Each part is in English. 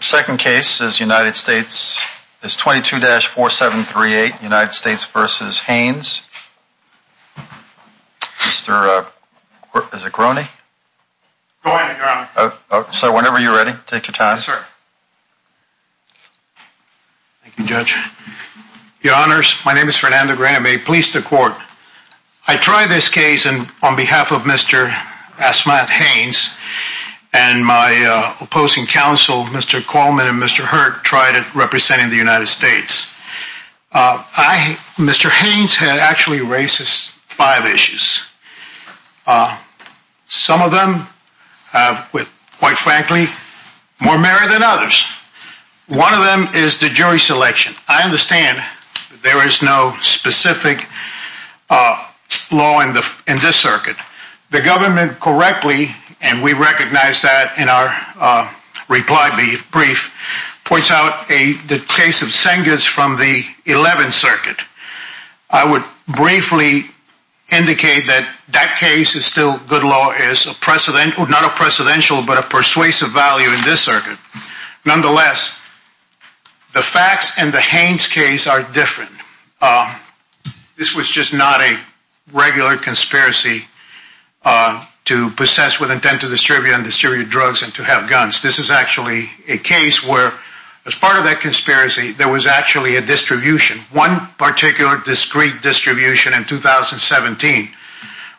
second case is United States is 22-4738 United States v. Haynes mr. is a crony so whenever you're ready take your time sir thank you judge your honors my name is Fernando Graham a police to court I try this case and on behalf of mr. As-Samad Haynes and my opposing counsel mr. Coleman and mr. Hurt tried it representing the United States I mr. Haynes had actually racist five issues some of them with quite frankly more married than others one of them is the jury selection I understand there is no specific law in the in this circuit the government correctly and we recognize that in our reply brief points out a the case of Sengas from the 11th circuit I would briefly indicate that that case is still good law is a precedent or not a precedential but a persuasive value in this circuit nonetheless the facts and the Haynes case are different this was just not a regular conspiracy to possess with intent to distribute and distribute drugs and to have guns this is actually a case where as part of that conspiracy there was actually a distribution one particular discrete distribution in 2017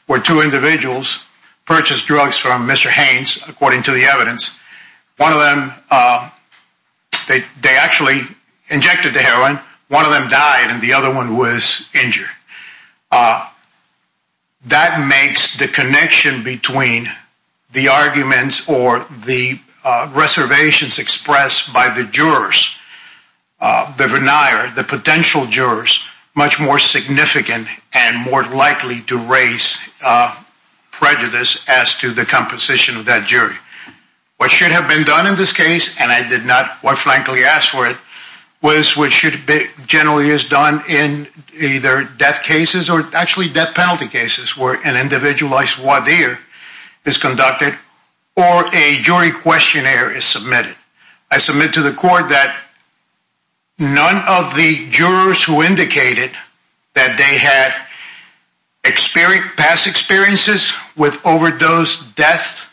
where two individuals purchased drugs from mr. Haynes according to the evidence one of they they actually injected heroin one of them died and the other one was injured that makes the connection between the arguments or the reservations expressed by the jurors the vernier the potential jurors much more significant and more likely to raise prejudice as to the composition of that and I did not frankly ask for it was which should be generally is done in either death cases or actually death penalty cases were an individualized what beer is conducted or a jury questionnaire is submitted I submit to the court that none of the jurors who indicated that they had experience past experiences with overdose death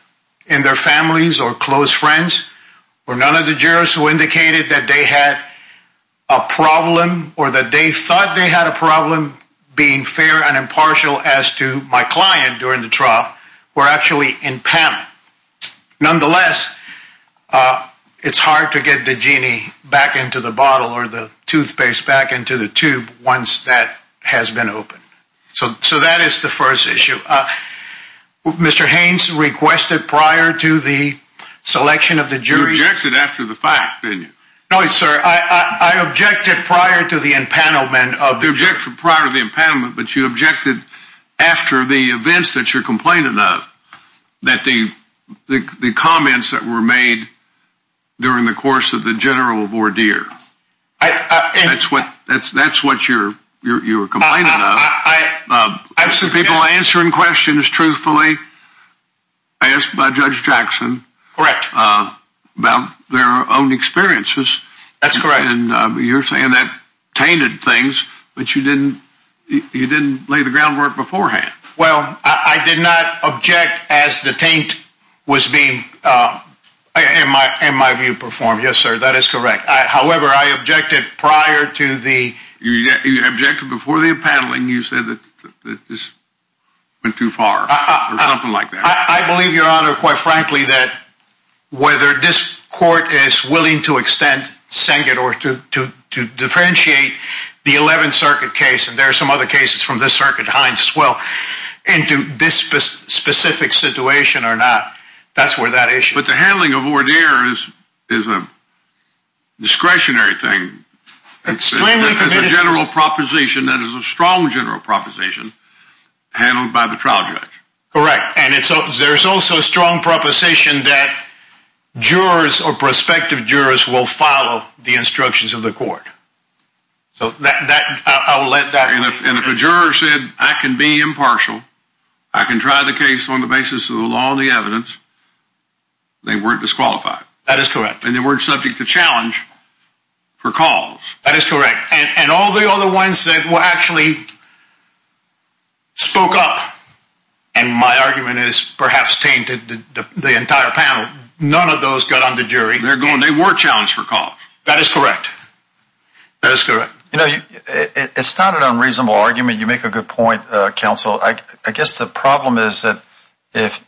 in their families or close friends or none of the jurors who indicated that they had a problem or that they thought they had a problem being fair and impartial as to my client during the trial we're actually in panic nonetheless it's hard to get the genie back into the bottle or the toothpaste back into the tube once that has been open so so that is the first issue of Mr. Haynes requested prior to the selection of the jury after the fact I objected prior to the impoundment of the object prior to the impoundment but you objected after the events that you're complaining of that the the comments that were made during the course of the general of ordeer that's what that's that's what you're you're complaining of I have some people answering questions truthfully asked by Judge Jackson correct about their own experiences that's correct and you're saying that tainted things but you didn't you didn't lay the groundwork beforehand well I did not object as the taint was being in my in my view performed yes sir that is correct however I objected prior to the you objected before the appareling you said that this went too far like that I believe your honor quite frankly that whether this court is willing to extend sang it or to differentiate the 11th Circuit case and there are some other cases from this circuit hinds well into this specific situation or not that's where that issue but the handling of discretionary thing it's a general proposition that is a strong general proposition handled by the trial judge correct and it's oh there's also a strong proposition that jurors or prospective jurors will follow the instructions of the court so that I will let that and if a juror said I can be impartial I can try the case on the basis of the law and the evidence they weren't subject to challenge recall that is correct and all the other ones that were actually spoke up and my argument is perhaps tainted the entire panel none of those got on the jury they're going they were challenged for call that is correct that's good you know it's not an unreasonable argument you make a good point counsel I guess the problem is that if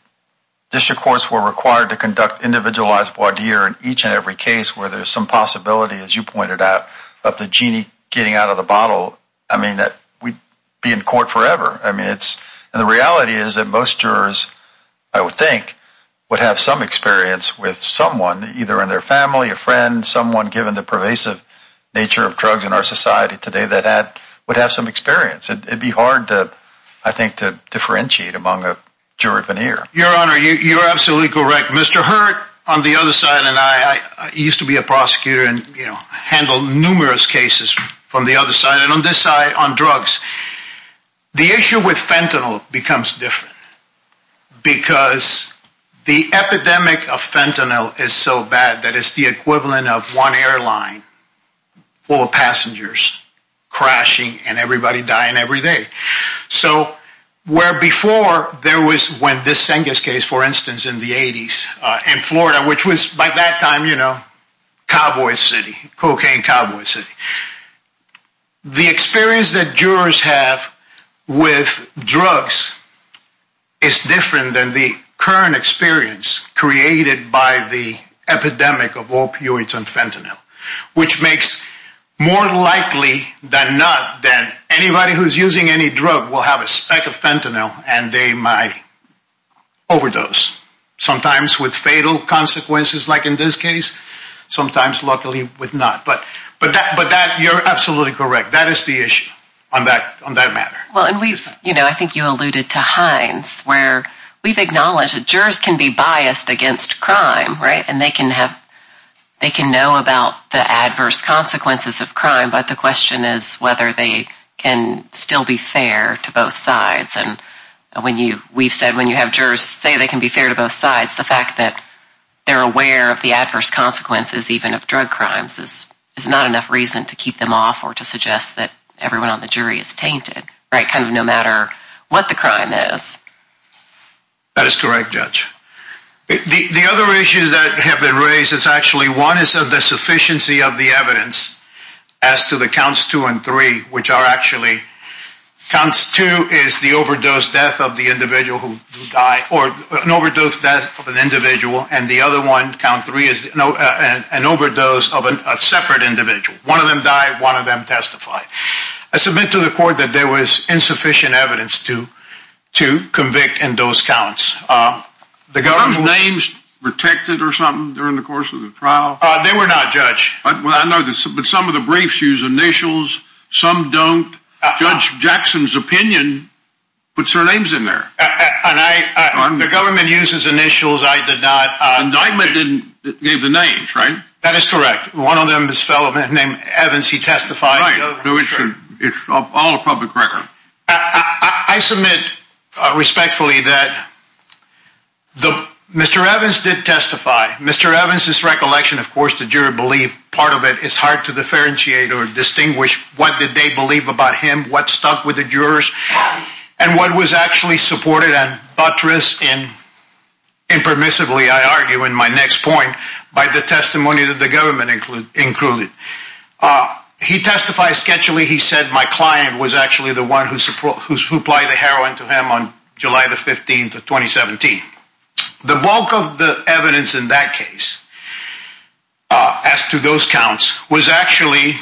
district courts were required to conduct individualized board here in each and every case where there's some possibility as you pointed out of the genie getting out of the bottle I mean that we'd be in court forever I mean it's and the reality is that most jurors I would think would have some experience with someone either in their family a friend someone given the pervasive nature of drugs in our society today that had would have some experience it'd be hard to I think to jerk an ear your honor you're absolutely correct mr. hurt on the other side and I used to be a prosecutor and you know handled numerous cases from the other side and on this side on drugs the issue with fentanyl becomes different because the epidemic of fentanyl is so bad that it's the equivalent of one airline full of passengers crashing and everybody dying every day so where before there was when this Cengiz case for instance in the 80s and Florida which was by that time you know Cowboy City cocaine Cowboy City the experience that jurors have with drugs is different than the current experience created by the epidemic of opioids on fentanyl which makes more likely than not then anybody who's using any drug will have a speck of fentanyl and they might overdose sometimes with fatal consequences like in this case sometimes luckily with not but but that but that you're absolutely correct that is the issue on that on that matter well and we you know I think you alluded to Heinz where we've acknowledged that jurors can be biased against crime right and they can have they can know about the adverse consequences of crime but the question is whether they can still be fair to both sides and when you we've said when you have jurors say they can be fair to both sides the fact that they're aware of the adverse consequences even of drug crimes this is not enough reason to keep them off or to suggest that everyone on the jury is tainted right kind of no matter what the crime is that is correct judge the other issues that have been raised is actually one is of the sufficiency of the evidence as to the counts two and three which are actually counts two is the overdose death of the individual who died or an overdose death of an individual and the other one count three is no and an overdose of a separate individual one of them died one of them testified I submit to the court that there was insufficient evidence to to convict in those counts the government names protected or something during the course of the trial they were not judged but well I know that's but some of the briefs use initials some don't judge Jackson's opinion but surnames in there and I the government uses initials I did not indictment didn't give the names right that is correct one of them this fellow named Evans he testified it's all public record I submit respectfully that the mr. Evans did testify mr. Evans's recollection of course the juror believed part of it is hard to differentiate or distinguish what did they believe about him what stuck with the jurors and what was actually supported and buttress in impermissibly I argue in my next point by the testimony that the government included he testified sketchily he said my client was actually the one who supplied the heroin to him on July the 15th of 2017 the bulk of the evidence in that case as to those counts was actually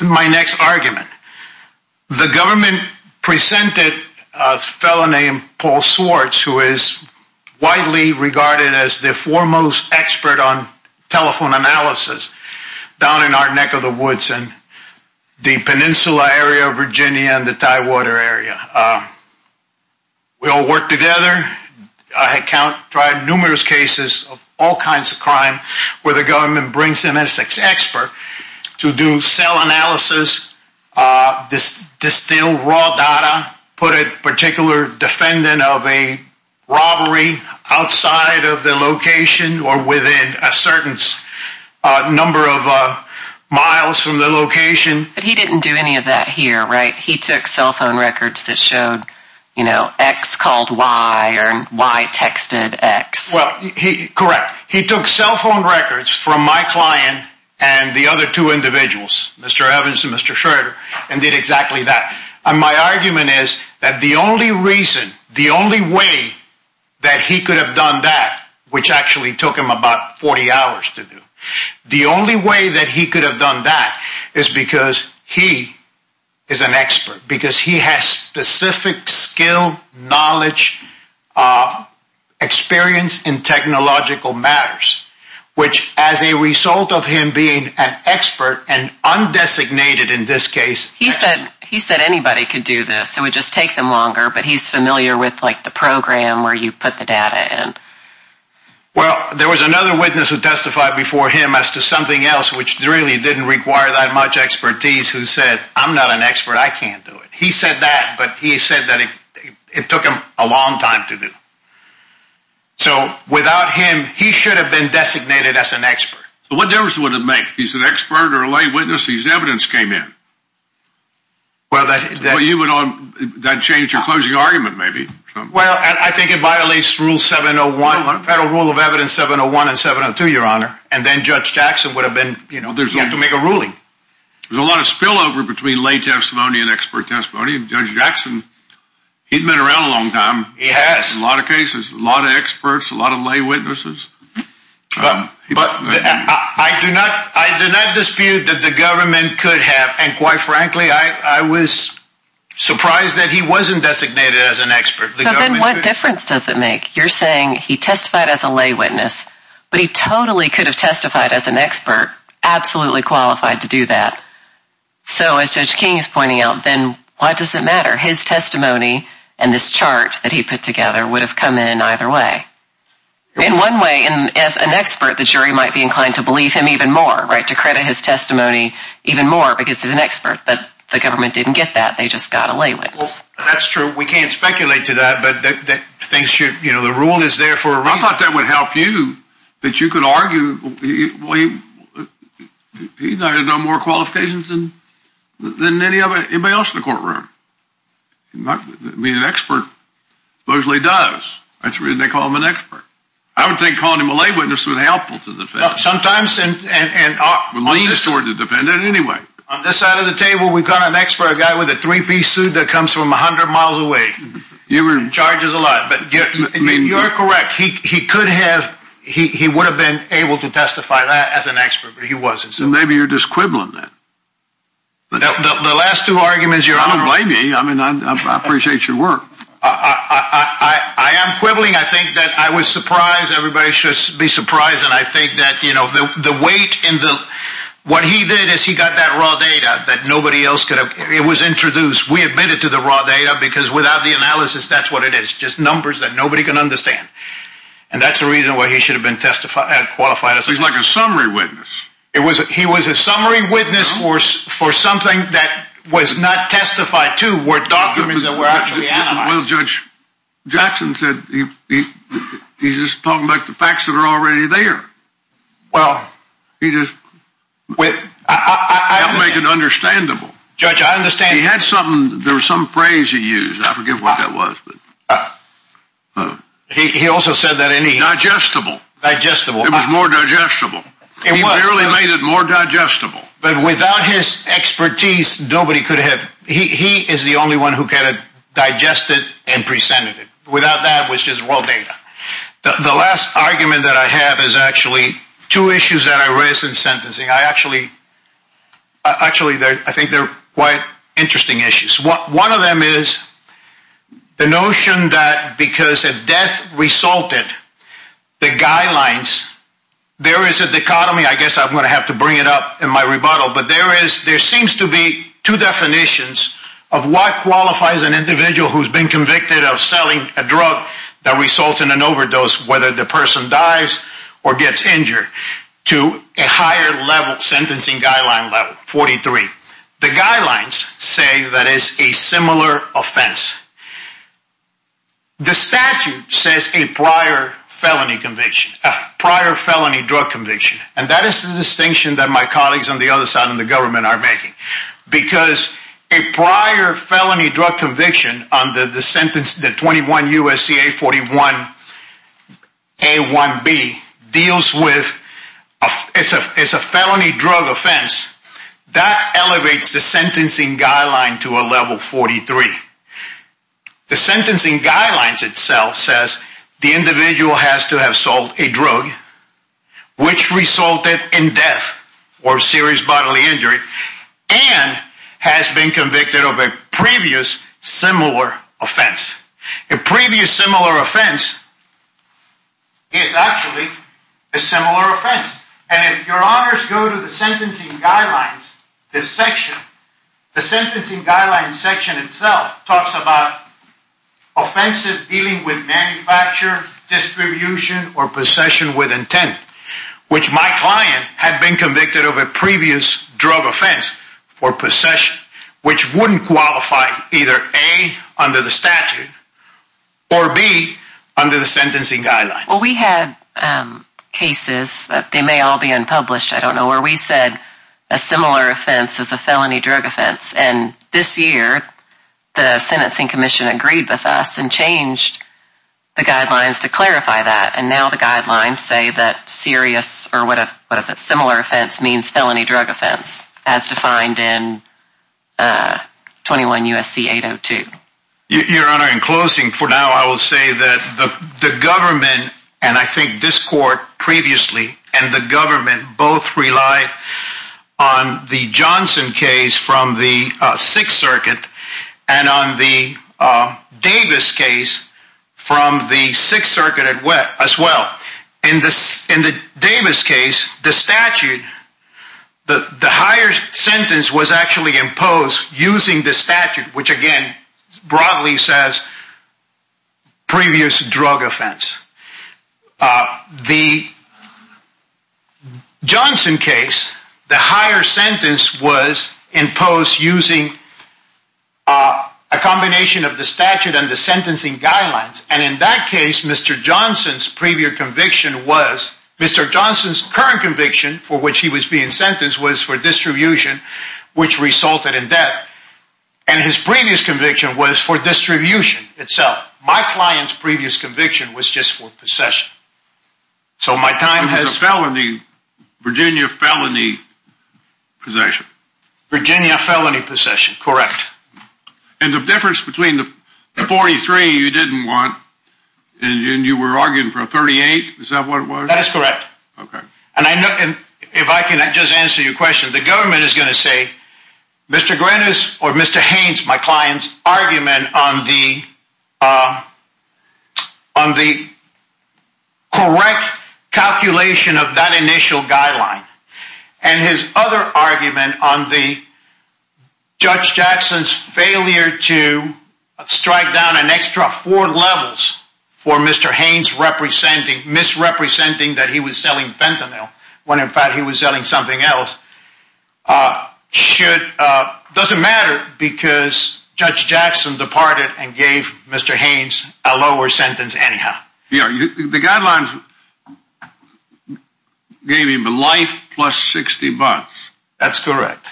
my next argument the government presented a fellow named Paul Swartz who is widely regarded as the foremost expert on telephone analysis down in our neck of the woods and the Peninsula area of Virginia and the Tidewater area we all work together I had count tried numerous cases of all kinds of crime where the government brings in a sex expert to do cell analysis this distilled raw data put it particular defendant of a robbery outside of the location or within a certain number of miles from the location but he didn't do any of that here right he took cell wire and why texted X well he correct he took cell phone records from my client and the other two individuals mr. Evans and mr. Schroeder and did exactly that and my argument is that the only reason the only way that he could have done that which actually took him about 40 hours to do the only way that he could have done that is because he is an expert because he has specific skill knowledge experience in technological matters which as a result of him being an expert and undesignated in this case he said he said anybody could do this it would just take them longer but he's familiar with like the program where you put the data and well there was another witness who testified before him as to something else which really didn't require that much expertise who said I'm it took him a long time to do so without him he should have been designated as an expert what there was one to make he's an expert or a lay witness he's evidence came in well that you would on that change your closing argument maybe well I think it violates rule 701 federal rule of evidence 701 and 702 your honor and then judge Jackson would have been you know there's going to make a ruling there's a lot of spillover between lay testimony and expert testimony and judge Jackson he'd been around a long time he has a lot of cases a lot of experts a lot of lay witnesses but I do not I do not dispute that the government could have and quite frankly I was surprised that he wasn't designated as an expert then what difference does it make you're saying he testified as a lay witness but he totally could have testified as an expert absolutely qualified to do that so as judge King is pointing out then why does it matter his testimony and this chart that he put together would have come in either way in one way and as an expert the jury might be inclined to believe him even more right to credit his testimony even more because there's an expert but the government didn't get that they just got a lay witness that's true we can't speculate to that but that things should you know the rule is there for I thought that would help you that more qualifications than than any other anybody else in the courtroom I mean an expert supposedly does that's reason they call him an expert I would think calling him a lay witness would be helpful to the defense sometimes and and I'm the sort of defendant anyway on this side of the table we've got an expert a guy with a three-piece suit that comes from a hundred miles away you were in charges a lot but you're correct he could have he would have been able to testify that as an expert but he wasn't so maybe you're just quibbling that the last two arguments you're I don't blame you I mean I appreciate your work I am quibbling I think that I was surprised everybody should be surprised and I think that you know the weight in the what he did is he got that raw data that nobody else could have it was introduced we admitted to the raw data because without the analysis that's what it is just numbers that nobody can understand and that's the reason why he should have been testified qualified as he's like a summary witness it was he was a summary witness force for something that was not testified to were documents that were actually analyzed. Well Judge Jackson said he's just pulling back the facts that are already there well he just with I make it understandable judge I understand he had something there was some phrase he used I forgive what that was he also said that any digestible digestible it was more digestible it was really made it more digestible but without his expertise nobody could have he is the only one who kind of digested and presented it without that which is raw data the last argument that I have is actually two issues that I raise in sentencing I actually actually there I quite interesting issues what one of them is the notion that because of death resulted the guidelines there is a dichotomy I guess I'm gonna have to bring it up in my rebuttal but there is there seems to be two definitions of what qualifies an individual who's been convicted of selling a drug that results in an overdose whether the person dies or gets injured to a higher level sentencing guideline level 43 the guidelines say that is a similar offense the statute says a prior felony conviction a prior felony drug conviction and that is the distinction that my colleagues on the other side of the government are making because a prior felony drug conviction under the that elevates the sentencing guideline to a level 43 the sentencing guidelines itself says the individual has to have sold a drug which resulted in death or serious bodily injury and has been convicted of a previous similar offense a previous similar offense is actually a similar offense and if your honors go to sentencing guidelines this section the sentencing guidelines section itself talks about offensive dealing with manufacturer distribution or possession with intent which my client had been convicted of a previous drug offense for possession which wouldn't qualify either a under the statute or be under the sentencing guidelines we had cases that they may all be unpublished I don't know where we said a similar offense as a felony drug offense and this year the sentencing Commission agreed with us and changed the guidelines to clarify that and now the guidelines say that serious or what if what is it similar offense means felony drug offense as defined in 21 USC 802 your honor in closing for now I will say that the government and I think this court previously and the on the Johnson case from the Sixth Circuit and on the Davis case from the Sixth Circuit at wet as well in this in the Davis case the statute the the higher sentence was actually imposed using the statute which again broadly says previous drug offense the Johnson case the higher sentence was imposed using a combination of the statute and the sentencing guidelines and in that case mr. Johnson's previous conviction was mr. Johnson's current conviction for which he was being sentenced was for distribution which resulted in death and his previous conviction was for distribution itself my clients previous conviction was just for possession so my time has felony Virginia felony possession Virginia felony possession correct and the difference between the 43 you didn't want and you were arguing for a 38 is that what it was that is correct okay and I know and if I can I just answer your question the government is going to say mr. Grenis or mr. Haynes my clients argument on the on the correct calculation of that initial guideline and his other argument on the judge Jackson's failure to strike down an extra four levels for mr. Haynes representing misrepresenting that he was selling fentanyl when in fact he was selling something else should doesn't matter because judge Jackson departed and gave mr. Haynes a lower sentence anyhow yeah the guidelines gave him a life plus 60 bucks that's correct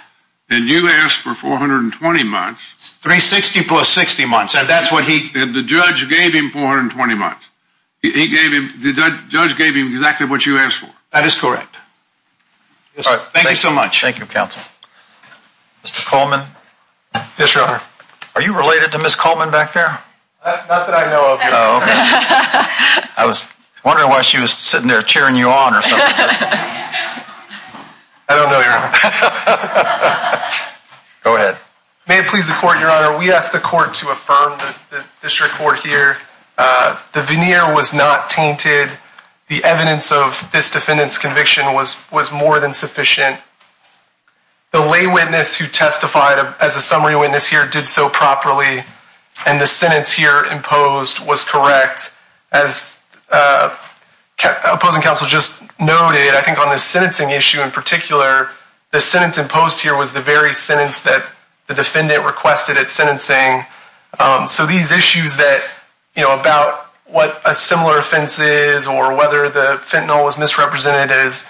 and you asked for 420 months 360 plus 60 months and that's what he did the judge gave him 420 months he gave him the thank you so much thank you counsel mr. Coleman this runner are you related to miss Coleman back there I was wondering why she was sitting there cheering you on or something go ahead may it please the court your honor we asked the court to affirm the district court here the veneer was not tainted the evidence of this defendants conviction was was more than sufficient the lay witness who testified as a summary witness here did so properly and the sentence here imposed was correct as opposing counsel just noted I think on the sentencing issue in particular the sentence imposed here was the very sentence that the defendant requested at sentencing so these issues that you know about what a was misrepresented as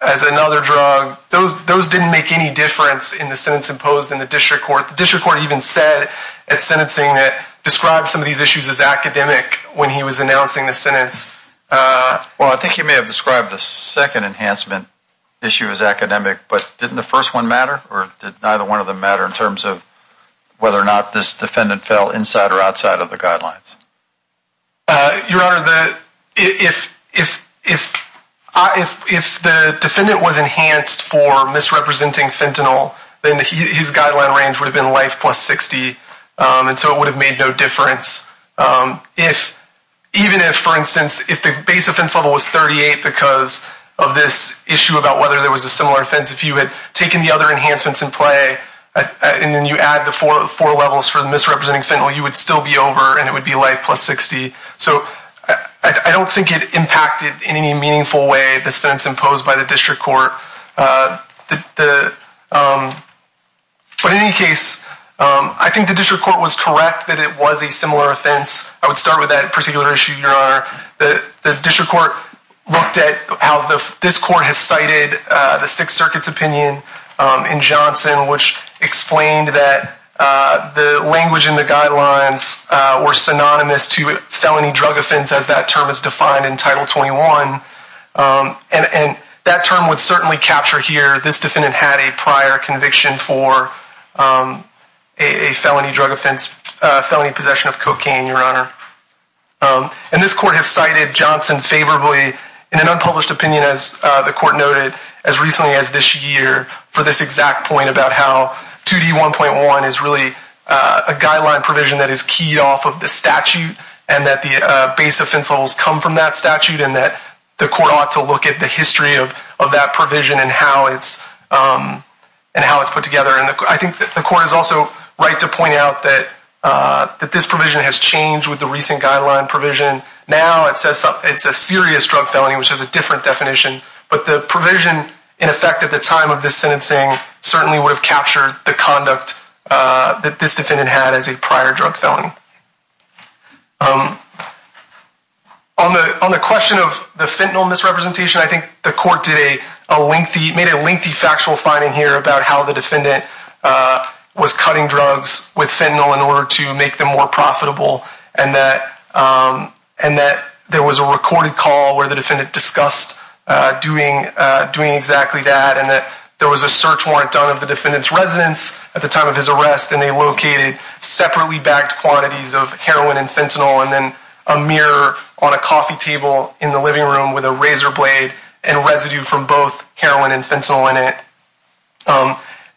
another drug those those didn't make any difference in the sentence imposed in the district court the district court even said at sentencing that described some of these issues as academic when he was announcing the sentence well I think you may have described the second enhancement issue is academic but didn't the first one matter or did neither one of them matter in terms of whether or not this defendant fell inside or if the defendant was enhanced for misrepresenting fentanyl then his guideline range would have been life plus 60 and so it would have made no difference if even if for instance if the base offense level was 38 because of this issue about whether there was a similar offense if you had taken the other enhancements in play and then you add the four four levels for the misrepresenting fentanyl you would still be over and it would be like plus 60 so I don't think it impacted in any meaningful way the sentence imposed by the district court the but in any case I think the district court was correct that it was a similar offense I would start with that particular issue your honor the district court looked at how the this court has cited the Sixth Circuit's opinion in Johnson which explained that the language in the offense as that term is defined in title 21 and and that term would certainly capture here this defendant had a prior conviction for a felony drug offense felony possession of cocaine your honor and this court has cited Johnson favorably in an unpublished opinion as the court noted as recently as this year for this exact point about how 2d 1.1 is really a guideline provision that is keyed off of the statute and that the base of pencils come from that statute and that the court ought to look at the history of that provision and how it's and how it's put together and I think that the court is also right to point out that that this provision has changed with the recent guideline provision now it says it's a serious drug felony which has a different definition but the provision in effect at the time of this sentencing certainly would have captured the conduct that this defendant had as a prior drug felony on the on the question of the fentanyl misrepresentation I think the court today a lengthy made a lengthy factual finding here about how the defendant was cutting drugs with fentanyl in order to make them more profitable and that and that there was a recorded call where the defendant discussed doing doing exactly that and that there was a search warrant done of the defendant's residence at the time of his arrest and they located separately bagged quantities of heroin and fentanyl and then a mirror on a coffee table in the living room with a razor blade and residue from both heroin and fentanyl in it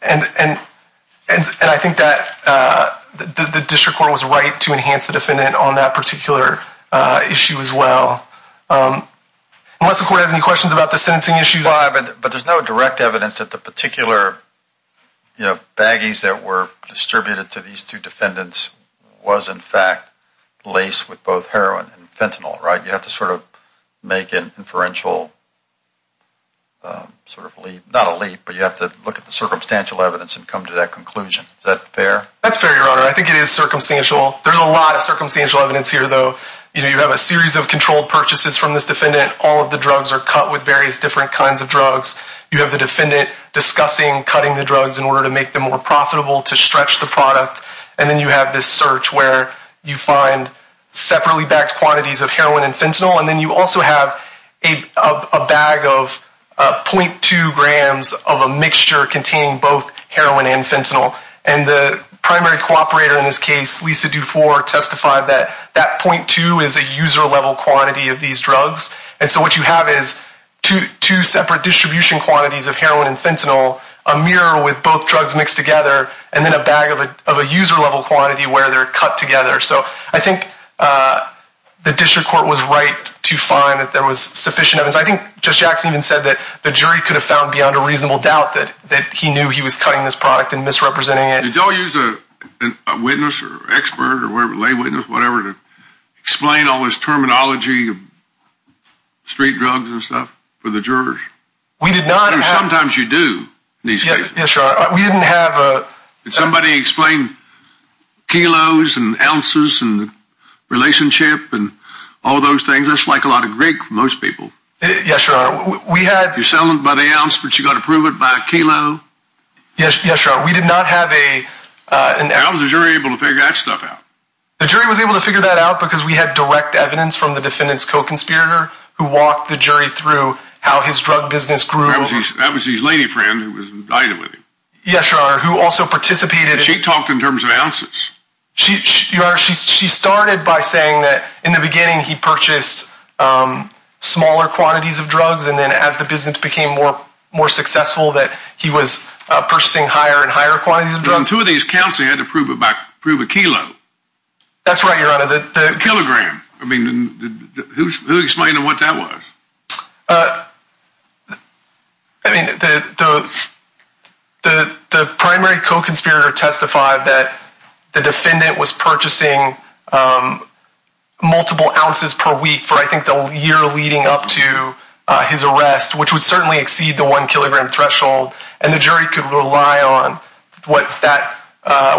and and and I think that the district court was right to enhance the unless the court has any questions about the sentencing issues live and but there's no direct evidence that the particular you know baggies that were distributed to these two defendants was in fact laced with both heroin and fentanyl right you have to sort of make an inferential sort of leap not a leap but you have to look at the circumstantial evidence and come to that conclusion that fair that's fair your honor I think it is circumstantial there's a lot of circumstantial evidence here though you know you have a series of controlled purchases from this defendant all of the drugs are cut with various different kinds of drugs you have the defendant discussing cutting the drugs in order to make them more profitable to stretch the product and then you have this search where you find separately backed quantities of heroin and fentanyl and then you also have a bag of 0.2 grams of a mixture containing both heroin and fentanyl and the primary cooperator in this case Lisa Dufour testified that that 0.2 is a user level quantity of these drugs and so what you have is two separate distribution quantities of heroin and fentanyl a mirror with both drugs mixed together and then a bag of a user level quantity where they're cut together so I think the district court was right to find that there was sufficient evidence I think just Jackson even said that the jury could have found beyond a reasonable doubt that that he knew he was cutting this product and misrepresenting it don't use a witness or expert or lay witness whatever to explain all this terminology of street drugs and stuff for the jurors we did not sometimes you do these yeah sure we didn't have somebody explain kilos and ounces and relationship and all those things that's like a lot of Greek most people yes sir we had you're selling by the ounce but you got to prove it by a kilo yes yes sir we did not have a an able to figure that stuff out the jury was able to figure that out because we had direct evidence from the defendants co-conspirator who walked the jury through how his drug business grew that was his lady friend who was invited with him yes sir who also participated she talked in terms of ounces she started by saying that in the beginning he purchased smaller quantities of drugs and then as the business became more more successful that he was purchasing higher and higher quantities of drug two of these counts they had to prove about prove a kilo that's right you're out of the kilogram I mean who's explaining what that was I mean the the the primary co-conspirator testified that the defendant was purchasing multiple ounces per week for I think the year leading up to his arrest which would certainly exceed the one kilogram threshold and the jury could rely on what that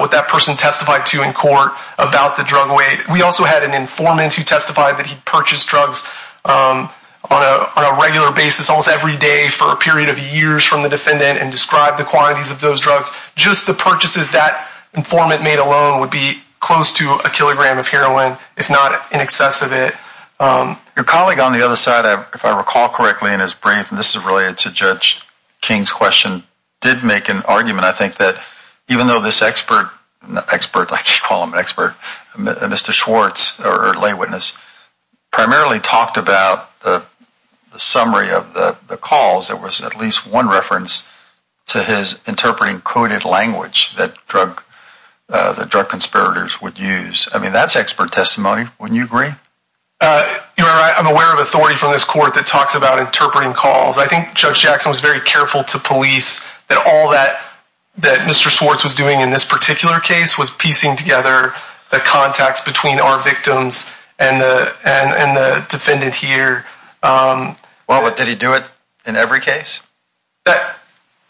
what that person testified to in court about the drug weight we also had an informant who testified that he purchased drugs on a regular basis almost every day for a period of years from the defendant and described the quantities of those drugs just the purchases that informant made alone would be close to a kilogram of heroin if not in excess of it your colleague on the other side if I recall correctly in his brief and this is related to judge King's question did make an argument I think that even though this expert expert like you call him an expert mr. Schwartz or lay witness primarily talked about the summary of the calls there was at least one reference to his interpreting coded language that drug the drug conspirators would use I mean that's expert testimony when you agree I'm aware of authority from this court that talks about interpreting calls I think judge Jackson was very careful to police that all that that mr. Swartz was doing in this particular case was piecing together the contacts between our victims and and and the defendant here well what did he do it in every case that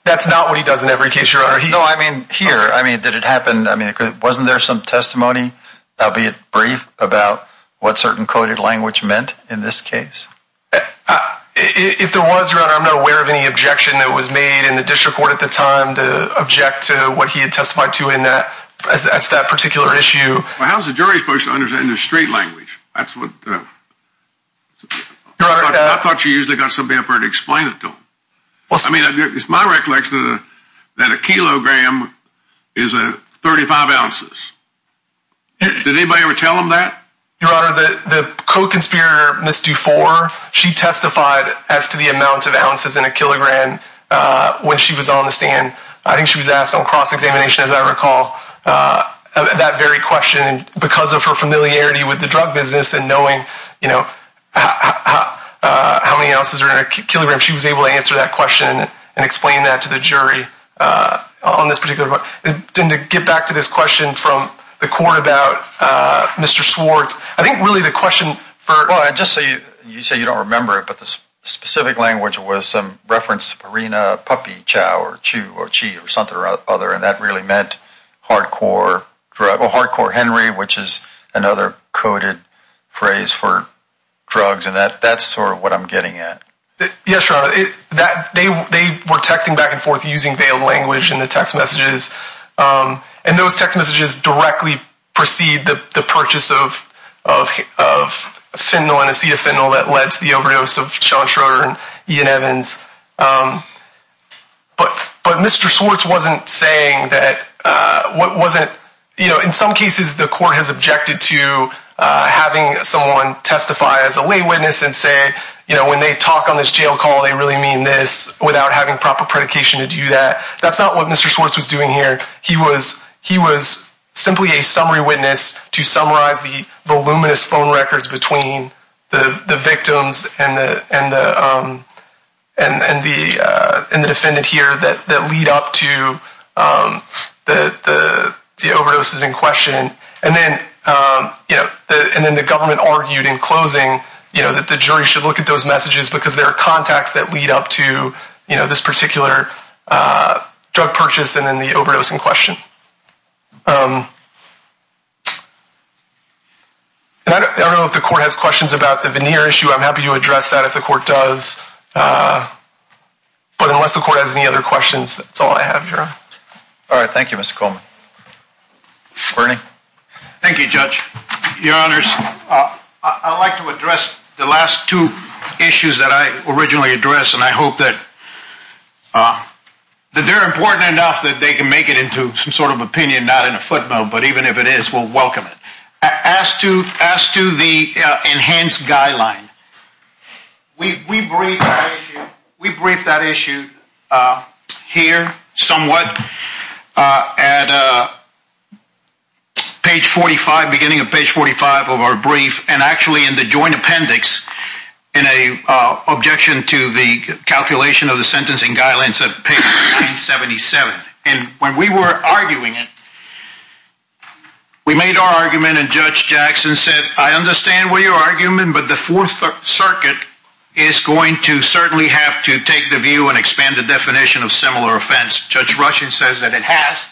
that's not what he does in every case you're already know I mean here I mean did it happen I mean it wasn't there some testimony I'll be it about what certain coded language meant in this case if there was around I'm not aware of any objection that was made in the district court at the time to object to what he had testified to in that that's that particular issue how's the jury supposed to understand the straight language that's what I thought you usually got some paper to explain it to well I mean it's my recollection that a kilogram is a 35 ounces did anybody ever tell him that your honor that the co-conspirator missed you for she testified as to the amount of ounces in a kilogram when she was on the stand I think she was asked on cross-examination as I recall that very question because of her familiarity with the drug business and knowing you know how many ounces are in a kilogram she was able to question and explain that to the jury on this particular didn't get back to this question from the court about mr. Swartz I think really the question for I just say you say you don't remember it but this specific language was some reference arena puppy chow or chew or cheat or something or other and that really meant hardcore for a hardcore Henry which is another coded phrase for drugs and that that's sort of what I'm getting at that they were texting back and forth using the language in the text messages and those text messages directly proceed the purchase of of fentanyl and acetafentanil that led to the overdose of Sean Schroeder and Ian Evans but but mr. Swartz wasn't saying that what wasn't you know in some cases the court has objected to having someone testify as a lay witness and say you know when they talk on this jail call they really mean this without having proper predication to do that that's not what mr. Swartz was doing here he was he was simply a summary witness to summarize the voluminous phone records between the the victims and the and the and and the and the defendant here that that lead up to the the overdoses in and then yeah and then the government argued in closing you know that the jury should look at those messages because there are contacts that lead up to you know this particular drug purchase and then the overdose in question I don't know if the court has questions about the veneer issue I'm happy to address that if the court does but unless the court has any other questions that's all I have here all right Thank You mr. Coleman Bernie Thank You judge your honors I'd like to address the last two issues that I originally addressed and I hope that that they're important enough that they can make it into some sort of opinion not in a footnote but even if it is we'll welcome it as to as to the enhanced guideline we brief we brief that issue here somewhat at page 45 beginning of page 45 of our brief and actually in the joint appendix in a objection to the calculation of the sentencing guidelines at page 77 and when we were arguing it we made our argument and judge Jackson said I understand what your argument but the view and expand the definition of similar offense judge Russian says that it has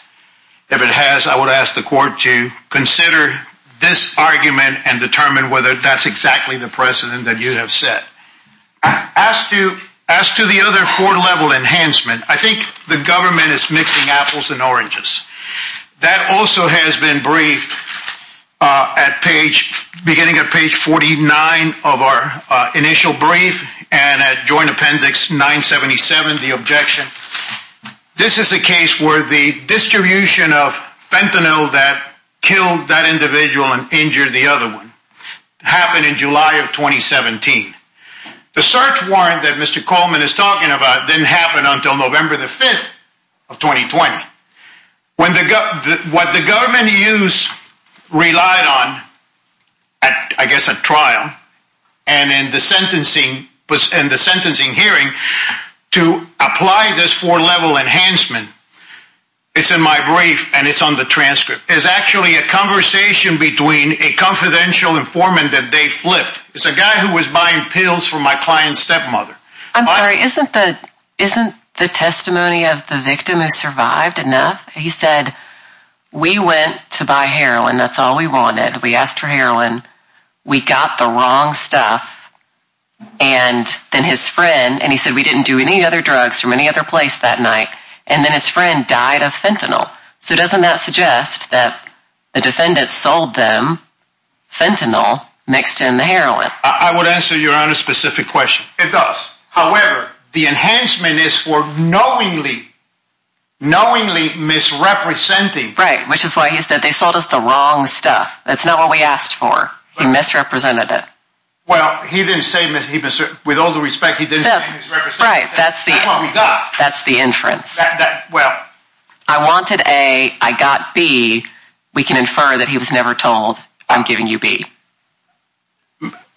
if it has I would ask the court to consider this argument and determine whether that's exactly the precedent that you have said as to as to the other four level enhancement I think the government is mixing apples and oranges that also has been briefed at page beginning of page 49 of our initial brief and at joint appendix 977 the objection this is a case where the distribution of fentanyl that killed that individual and injured the other one happened in July of 2017 the search warrant that mr. Coleman is talking about didn't happen until November the 5th of 2020 when they got what the use relied on I guess a trial and in the sentencing was in the sentencing hearing to apply this for level enhancement it's in my brief and it's on the transcript is actually a conversation between a confidential informant that they flipped it's a guy who was buying pills for my client's stepmother I'm sorry isn't that isn't the testimony of the victim who survived enough he said we went to buy heroin that's all we wanted we asked for heroin we got the wrong stuff and then his friend and he said we didn't do any other drugs from any other place that night and then his friend died of fentanyl so doesn't that suggest that the defendants sold them fentanyl mixed in the heroin I would answer your honor specific question it does however the misrepresenting right which is why he said they sold us the wrong stuff that's not what we asked for he misrepresented it well he didn't say mr. with all the respect he did right that's the that's the inference well I wanted a I got B we can infer that he was never told I'm giving you B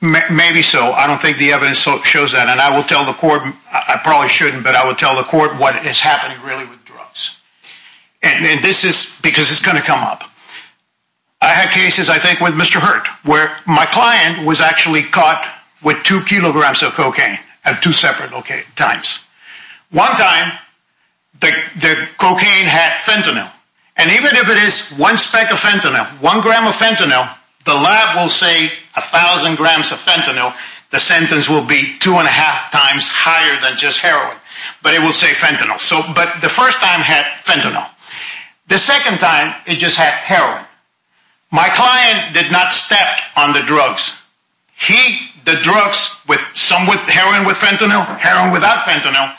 maybe so I don't think the evidence shows that and I will tell the court I probably shouldn't but I would tell the court what it has happened really with drugs and then this is because it's gonna come up I had cases I think with mr. hurt where my client was actually caught with two kilograms of cocaine have two separate locate times one time the cocaine had fentanyl and even if it is one speck of fentanyl one gram of fentanyl the lab will say a thousand grams of fentanyl the sentence will be two and a half times higher than just heroin but it will say fentanyl so but the first time had fentanyl the second time it just had heroin my client did not step on the drugs he the drugs with some with heroin with fentanyl heroin without fentanyl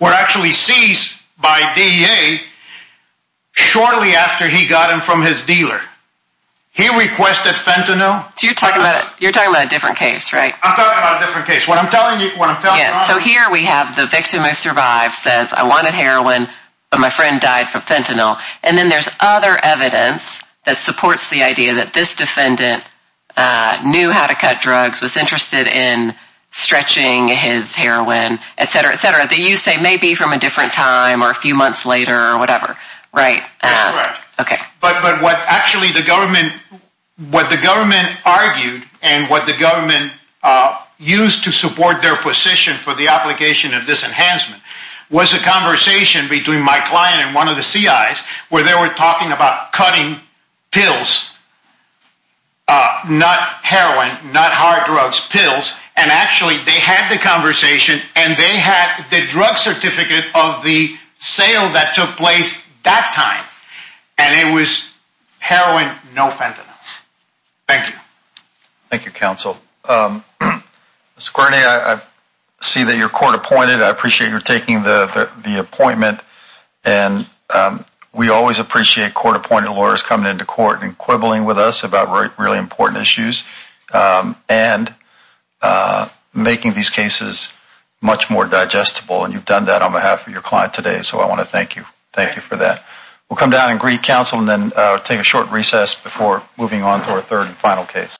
were actually seized by DEA shortly after he got him from his dealer he requested fentanyl do you talk about it you're talking about a different case right I'm talking about a victim who survived says I wanted heroin but my friend died from fentanyl and then there's other evidence that supports the idea that this defendant knew how to cut drugs was interested in stretching his heroin etc etc that you say may be from a different time or a few months later or whatever right okay but but what actually the government what the government argued and what the enhancement was a conversation between my client and one of the CI's where they were talking about cutting pills not heroin not hard drugs pills and actually they had the conversation and they had the drug certificate of the sale that took place that time and it was heroin no fentanyl thank you thank you appreciate your taking the appointment and we always appreciate court-appointed lawyers coming into court and quibbling with us about really important issues and making these cases much more digestible and you've done that on behalf of your client today so I want to thank you thank you for that we'll come down and greet counsel and then take a short recess before moving on to our third and final case